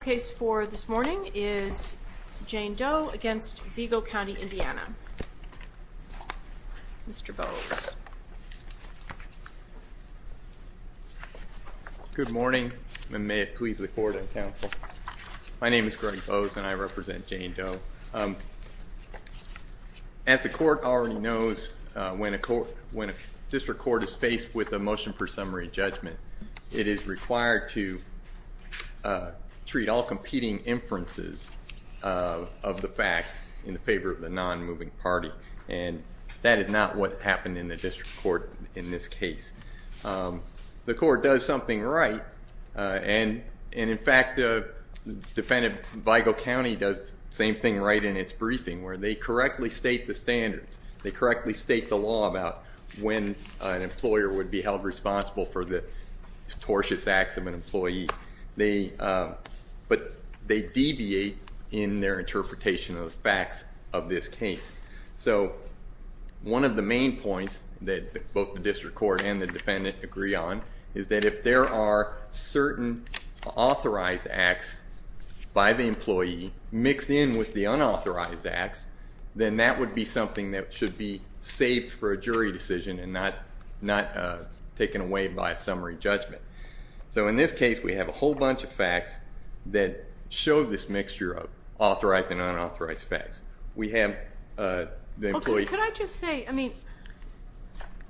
The case for this morning is Jane Doe against Vigo County, Indiana. Mr. Bowes. Good morning and may it please the court and counsel. My name is Greg Bowes and I represent Jane Doe. As the court already knows, when a district court is faced with a motion for the non-moving party, it is the all-competing inferences of the facts in favor of the non-moving party. And that is not what happened in the district court in this case. The court does something right and in fact the defendant, Vigo County, does the same thing right in its briefing where they correctly state the standards. They correctly state the law about when an employer would be held responsible for the tortious acts of an employee. But they deviate in their interpretation of the facts of this case. So one of the main points that both the district court and the defendant agree on is that if there are certain authorized acts by the employee mixed in with the unauthorized acts, then that would be something that should be saved for a jury decision and not taken away by a summary judgment. So in this case we have a whole bunch of facts that show this mixture of authorized and unauthorized facts. We have the employee. Okay, could I just say, I mean,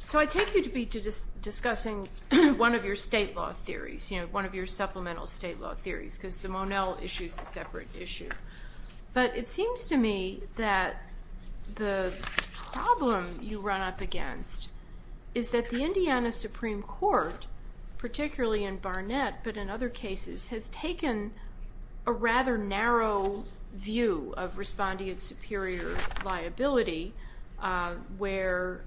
so I take you to be discussing one of your state law theories, you know, one of your supplemental state law theories because the Monell issue is a separate issue. But it seems to me that the problem you run up against is that the Indiana Supreme Court, particularly in Barnett but in other cases, has taken a rather narrow view of respondeant superior liability where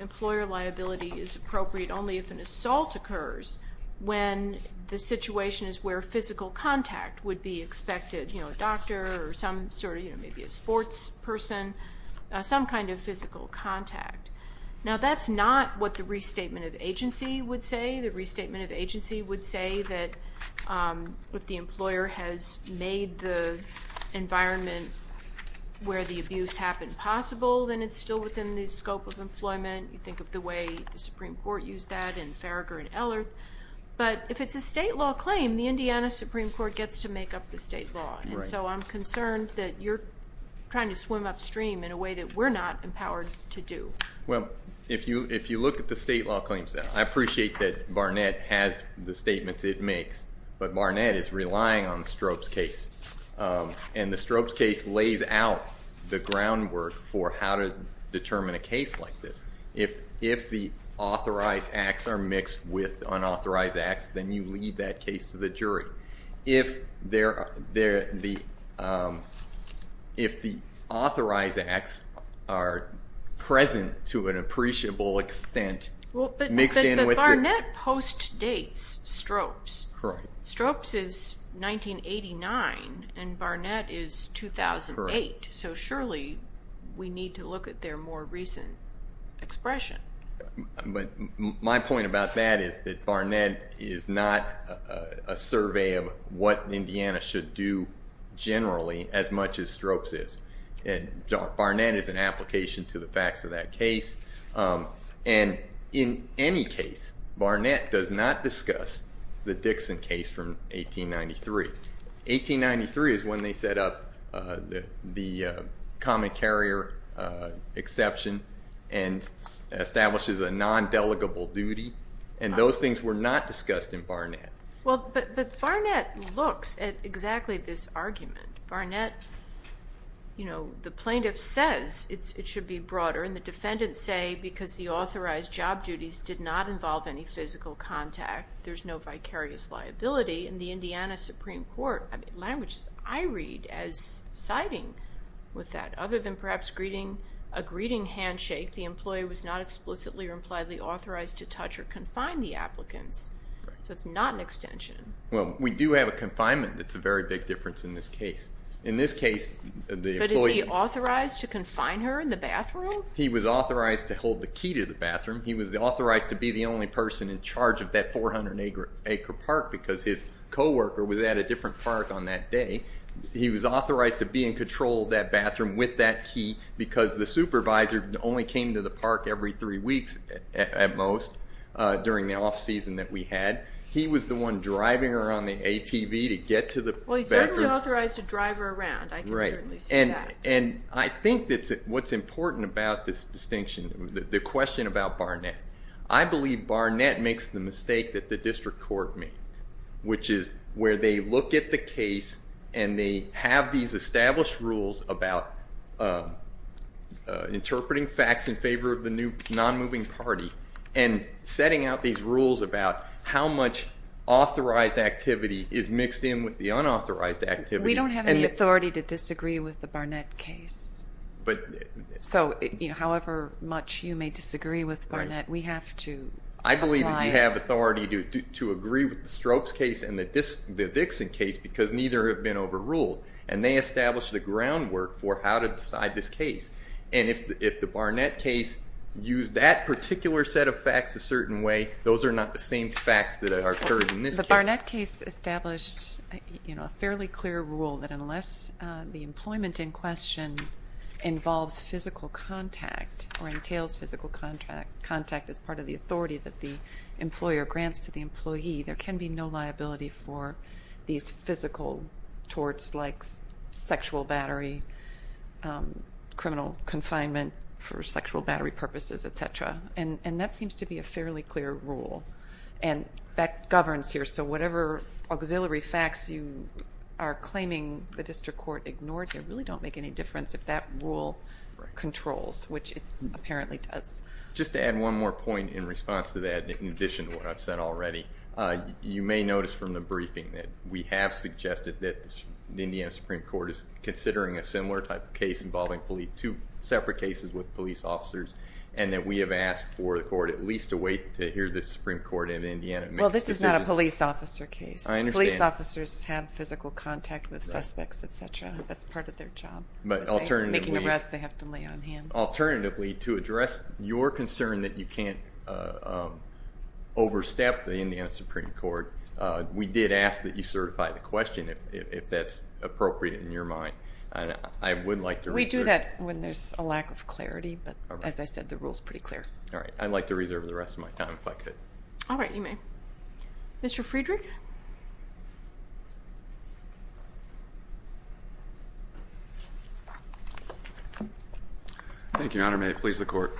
employer liability is appropriate only if an assault occurs when the situation is where physical contact would be expected, you know, a doctor or some sort of, you know, maybe a sports person, some kind of physical contact. Now that's not what the restatement of agency would say. The restatement of agency would say that if the employer has made the environment where the abuse happened possible, then it's still within the scope of employment. You think of the way the Supreme Court used that in Farragut and Ellert. But if it's a state law claim, the Indiana Supreme Court gets to make up the state law. And so I'm concerned that you're trying to swim upstream in a way that we're not empowered to do. Well, if you look at the state law claims now, I appreciate that Barnett has the statements it makes. But Barnett is relying on Strobe's case. And the Strobe's case lays out the groundwork for how to determine a case like this. If the authorized acts are mixed with unauthorized acts, then you leave that case to the jury. If the authorized acts are present to an appreciable extent mixed in with the... But Barnett postdates Strobe's. Correct. Barnett is 2008. So surely we need to look at their more recent expression. My point about that is that Barnett is not a survey of what Indiana should do generally as much as Strobe's is. Barnett is an application to the facts of that case. And in any case, Barnett does not discuss the Dixon case from 1893. 1893 is when they set up the common carrier exception and establishes a non-delegable duty. And those things were not discussed in Barnett. Well, but Barnett looks at exactly this argument. Barnett, you know, the plaintiff says it should be broader. And the defendants say, because the authorized job duties did not involve any physical contact, there's no vicarious liability. And the Indiana Supreme Court languages I read as siding with that. Other than perhaps a greeting handshake, the employee was not explicitly or impliedly authorized to touch or confine the applicants. So it's not an extension. Well, we do have a confinement that's a very big difference in this case. In this case, the employee... He was authorized to hold the key to the bathroom. He was authorized to be the only person in charge of that 400-acre park because his coworker was at a different park on that day. He was authorized to be in control of that bathroom with that key because the supervisor only came to the park every three weeks at most during the off-season that we had. He was the one driving her on the ATV to get to the bathroom. Well, he certainly authorized to drive her around. I can certainly see that. And I think that's what's important about this distinction, the question about Barnett. I believe Barnett makes the mistake that the district court made, which is where they look at the case and they have these established rules about interpreting facts in favor of the non-moving party and setting out these rules about how much authorized activity is mixed in with the unauthorized activity. We don't have any authority to disagree with the Barnett case. However much you may disagree with Barnett, we have to apply it. I believe that we have authority to agree with the Stropes case and the Dixon case because neither have been overruled. And they established the groundwork for how to decide this case. And if the Barnett case used that particular set of facts a certain way, those are not the same facts that are occurred in this case. The Barnett case established a fairly clear rule that unless the employment in question involves physical contact or entails physical contact as part of the authority that the employer grants to the employee, there can be no liability for these physical torts like sexual battery, criminal confinement for sexual battery purposes, et cetera. And that seems to be a fairly clear rule. And that governs here. So whatever auxiliary facts you are claiming the district court ignored here really don't make any difference if that rule controls, which it apparently does. Just to add one more point in response to that, in addition to what I've said already, you may notice from the briefing that we have suggested that the Indiana Supreme Court is considering a similar type of case involving two separate cases with police officers and that we have asked for the court at least to wait to hear the Supreme Court in Indiana. Well, this is not a police officer case. Police officers have physical contact with suspects, et cetera. That's part of their job. But alternatively, to address your concern that you can't overstep the Indiana Supreme Court, we did ask that you certify the question if that's appropriate in your mind. We do that when there's a lack of clarity. But as I said, the rule's pretty clear. All right. I'd like to reserve the rest of my time if I could. All right. You may. Mr. Friedrich? Thank you, Your Honor. May it please the court.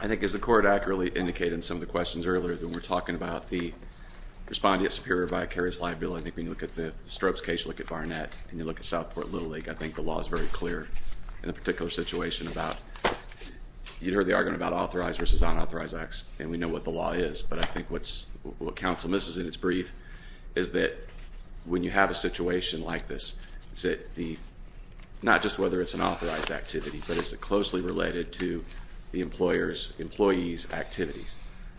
I think as the court accurately indicated in some of the questions earlier when we were talking about the respondeat superior vicarious liability, I think when you look at the Strokes case, you look at Barnett, and you look at Southport Little League, I think the law is very clear in a particular situation about you heard the argument about authorized versus unauthorized acts, and we know what the law is. But I think what's, what counsel misses in its brief is that when you have a situation like this, is it the, not just whether it's an authorized activity, but is it closely related to the employer's, employee's activities.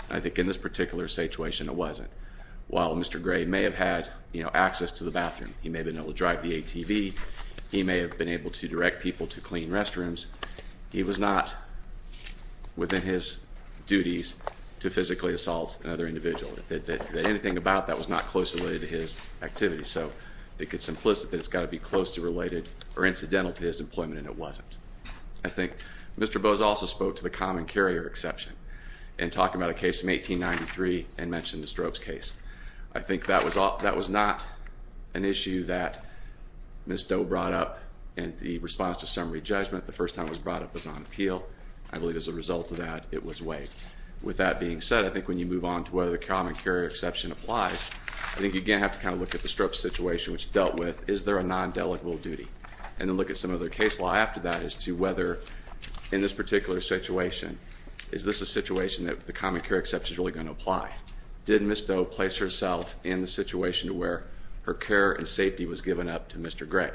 I think in this particular situation it wasn't. While Mr. Gray may have had, you know, access to the bathroom, he may have been able to drive the ATV, he may have been able to direct people to clean restrooms, he was not within his duties to physically assault another individual. Anything about that was not closely related to his activities. So I think it's implicit that it's got to be closely related or incidental to his employment, and it wasn't. I think Mr. Bose also spoke to the common carrier exception in talking about a case from 1893 and mentioned the strokes case. I think that was, that was not an issue that Ms. Doe brought up in the response to summary judgment. The first time it was brought up was on appeal. I believe as a result of that, it was waived. With that being said, I think when you move on to whether the common carrier exception applies, I think you again have to kind of look at the stroke situation which dealt with is there a non-delegable duty? And then look at some of the case law after that as to whether in this particular situation, is this a situation that the common carrier exception is really going to apply? Did Ms. Doe place herself in the situation where her care and safety was given up to Mr. Gray?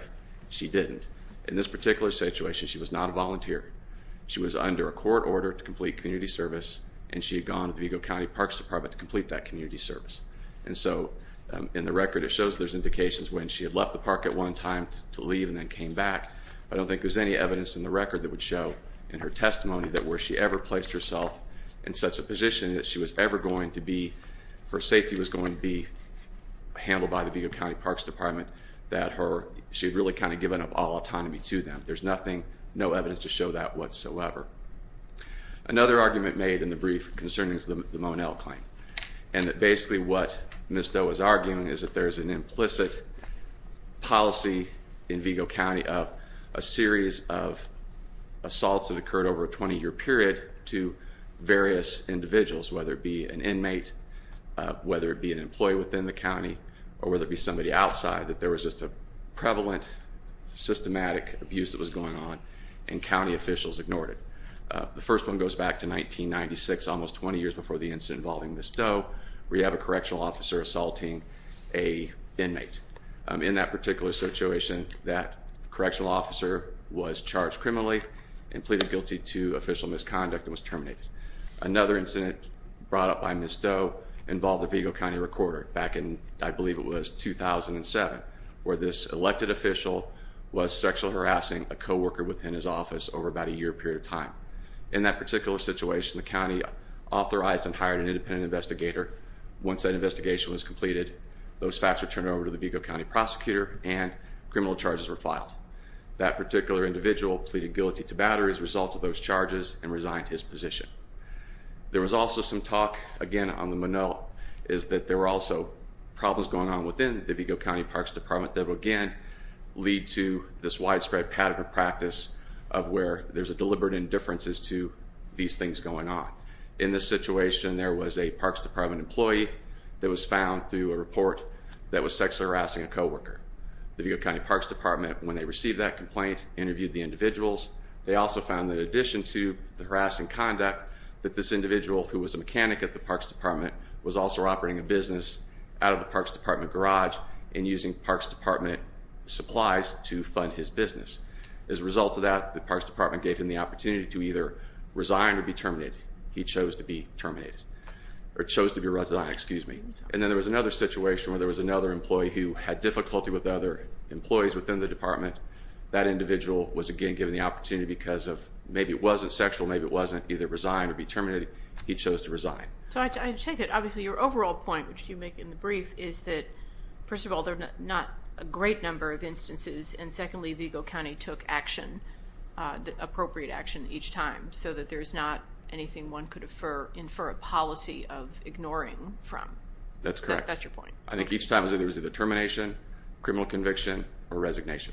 She didn't. In this particular situation, she was not a volunteer. She was under a court order to complete community service, and she had gone to the Vigo County Parks Department to complete that community service. And so in the record, it shows there's indications when she had left the park at one time to leave and then came back. I don't think there's any evidence in the record that would show in her testimony that where she ever placed herself in such a position that she was ever going to be, her safety was going to be handled by the Vigo County Parks Department, that she had really kind of given up all autonomy to them. There's nothing, no evidence to show that whatsoever. Another argument made in the brief concerning the Monell claim, and that basically what Ms. Doe is arguing, is that there's an implicit policy in Vigo County of a series of assaults that occurred over a 20-year period to various individuals, whether it be an inmate, whether it be an employee within the county, or whether it be somebody outside, that there was just a prevalent, systematic abuse that was going on, and county officials ignored it. The first one goes back to 1996, almost 20 years before the incident involving Ms. Doe. We have a correctional officer assaulting an inmate. In that particular situation, that correctional officer was charged criminally and pleaded guilty to official misconduct and was terminated. Another incident brought up by Ms. Doe involved the Vigo County Recorder back in, I believe it was 2007, where this elected official was sexually harassing a co-worker within his office over about a year period of time. In that particular situation, the county authorized and hired an independent investigator. Once that investigation was completed, those facts were turned over to the Vigo County Prosecutor and criminal charges were filed. That particular individual pleaded guilty to battery as a result of those charges and resigned his position. There was also some talk, again, on the Monell, is that there were also problems going on within the Vigo County Parks Department that would, again, lead to this widespread pattern of practice of where there's a deliberate indifference as to these things going on. In this situation, there was a Parks Department employee that was found through a report that was sexually harassing a co-worker. The Vigo County Parks Department, when they received that complaint, interviewed the individuals. They also found that in addition to the harassing conduct, that this individual who was a mechanic at the Parks Department was also operating a business out of the Parks Department garage and using Parks Department supplies to fund his business. As a result of that, the Parks Department gave him the opportunity to either resign or be terminated. He chose to be terminated, or chose to be resigned, excuse me. And then there was another situation where there was another employee who had difficulty with other employees within the department. That individual was, again, given the opportunity because of, maybe it wasn't sexual, maybe it wasn't either resign or be terminated. He chose to resign. So I take it, obviously, your overall point, which you make in the brief, is that, first of all, there are not a great number of instances, and secondly, Vigo County took action, the re's not anything one could infer a policy of ignoring from. That's correct. That's your point. I think each time it was either termination, criminal conviction, or resignation.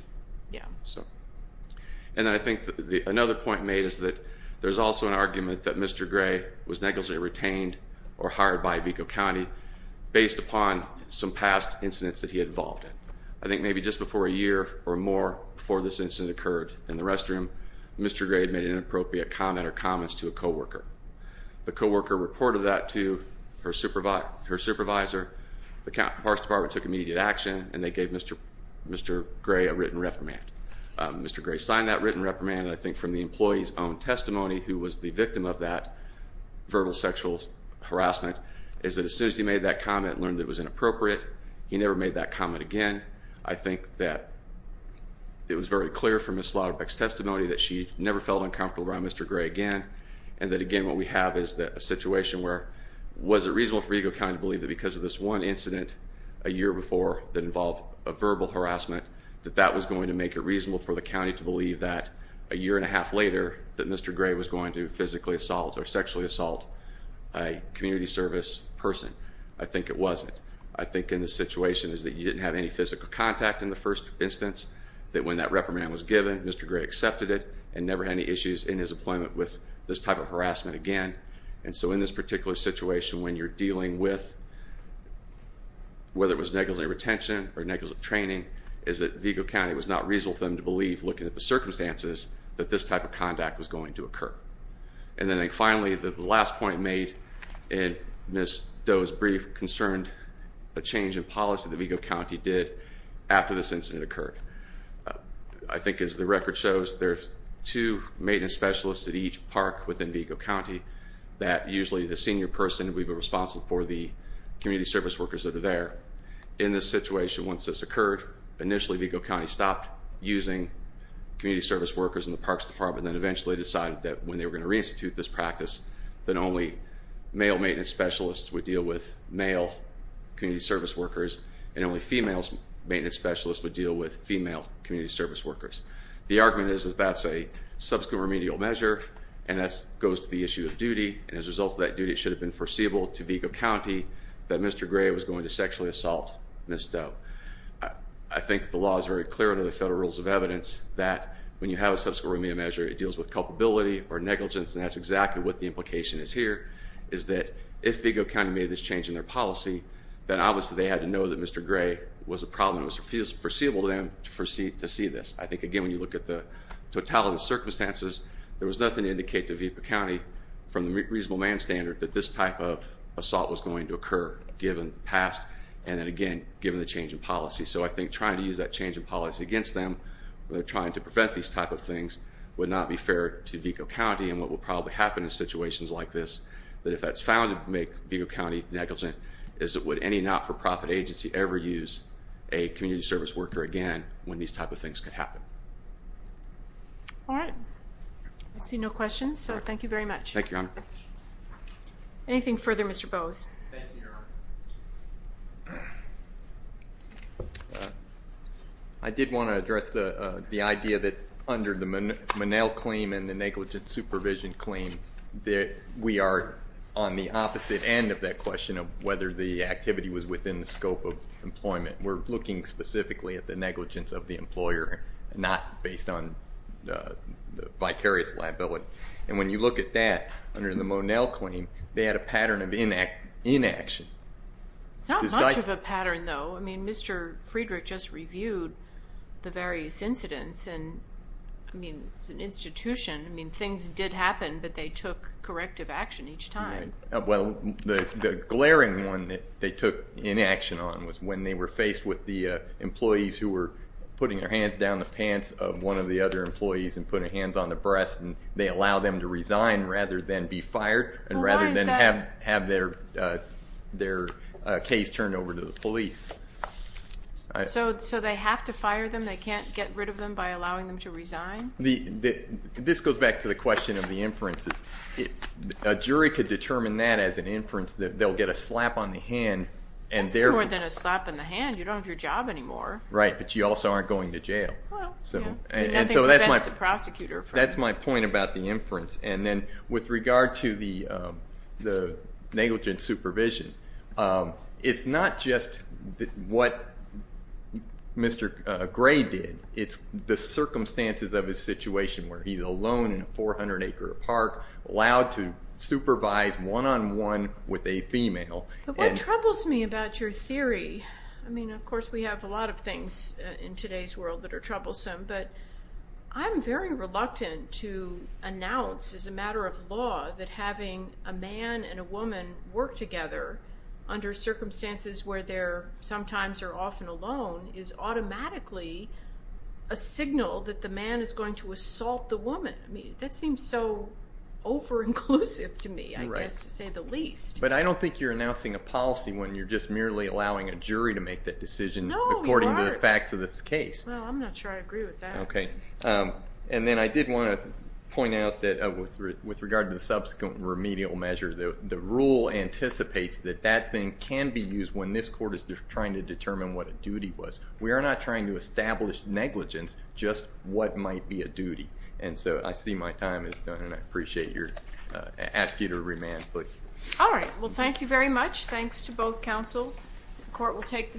And I think another point made is that there's also an argument that Mr. Gray was negligently retained or hired by Vigo County based upon some past incidents that he had involved in. I think maybe just before a year or more before this incident occurred in the restroom, Mr. Gray had made an inappropriate comment or comments to a co-worker. The co-worker reported that to her supervisor. The Parks Department took immediate action, and they gave Mr. Gray a written reprimand. Mr. Gray signed that written reprimand, and I think from the employee's own testimony, who was the victim of that verbal sexual harassment, is that as soon as he made that comment and learned that it was inappropriate, he never made that comment again. I think that it was very clear from Ms. Slaughterbeck's testimony that she never felt uncomfortable around Mr. Gray again, and that again, what we have is a situation where was it reasonable for Vigo County to believe that because of this one incident a year before that involved a verbal harassment, that that was going to make it reasonable for the county to believe that a year and a half later that Mr. Gray was going to physically assault or sexually assault a community service person? I think it wasn't. I think in this situation is that you didn't have any physical contact in the first instance, that when that reprimand was given, Mr. Gray accepted it and never had any issues in his employment with this type of harassment again. And so in this particular situation, when you're dealing with, whether it was negligent retention or negligent training, is that Vigo County was not reasonable for them to believe looking at the circumstances that this type of contact was going to occur. And then finally, the last point made in Ms. Doe's brief concerned a change in policy that Vigo County did after this incident occurred. I think as the record shows, there's two maintenance specialists at each park within Vigo County that usually the senior person would be responsible for the community service workers that are there. In this situation, once this occurred, initially Vigo County stopped using community service workers in the parks department and eventually decided that when they were going to re-institute this practice, that only male maintenance specialists would deal with male community service workers and only female maintenance specialists would deal with female community service workers. The argument is that that's a subsequent remedial measure and that goes to the issue of duty. And as a result of that duty, it should have been foreseeable to Vigo County that Mr. Gray was going to sexually assault Ms. Doe. I think the law is very clear under the federal rules of evidence that when you have a subsequent remedial measure, it deals with culpability or negligence and that's exactly what the implication is here, is that if Vigo County made this change in their policy, then obviously they had to know that Mr. Gray was a problem. It was foreseeable to them to see this. I think, again, when you look at the total of the circumstances, there was nothing to indicate to Vigo County from the reasonable man standard that this type of assault was going to occur given the past and then, again, given the change in policy. So I think trying to use that change in policy against them when they're trying to prevent these type of things would not be fair to Vigo County and what will probably happen in situations like this, that if that's found to make Vigo County negligent, is that would any not-for-profit agency ever use a community service worker again when these type of things could happen? All right. I see no questions, so thank you very much. Thank you, Your Honor. Anything further, Mr. Bowes? Thank you, Your Honor. I did want to address the idea that under the Monell claim and the negligent supervision claim that we are on the opposite end of that question of whether the activity was within the scope of employment. We're looking specifically at the negligence of the employer, not based on the vicarious liability. And when you look at that under the Monell claim, they had a pattern of inaction. It's not much of a pattern, though. I mean, Mr. Friedrich just reviewed the various incidents and, I mean, it's an institution. I mean, things did happen, but they took corrective action each time. Well, the glaring one that they took inaction on was when they were faced with the employees who were putting their hands down the pants of one of the other employees and putting their hands down, and they allowed them to resign rather than be fired and rather than have their case turned over to the police. So they have to fire them? They can't get rid of them by allowing them to resign? This goes back to the question of the inferences. A jury could determine that as an inference, that they'll get a slap on the hand. It's more than a slap in the hand. You don't have your job anymore. Right, but you also aren't going to jail. Well, yeah. Nothing prevents the prosecutor. That's my point about the inference. And then with regard to the negligent supervision, it's not just what Mr. Gray did. It's the circumstances of his situation where he's alone in a 400-acre park, allowed to supervise one-on-one with a female. What troubles me about your theory, I mean, of course, we have a lot of things in today's world that are troublesome, but I'm very reluctant to announce as a matter of law that having a man and a woman work together under circumstances where they're sometimes or often alone is automatically a signal that the man is going to assault the woman. I mean, that seems so over-inclusive to me, I guess, to say the least. But I don't think you're announcing a policy when you're just merely allowing a jury to make that decision according to the facts of this case. No, I'm not sure I agree with that. Okay. And then I did want to point out that with regard to the subsequent remedial measure, the rule anticipates that that thing can be used when this court is trying to determine what a duty was. We are not trying to establish negligence, just what might be a duty. And so I see my time is done, and I appreciate your... ask you to remand, please. All right. Well, thank you very much. Thanks to both counsel. The court will take the...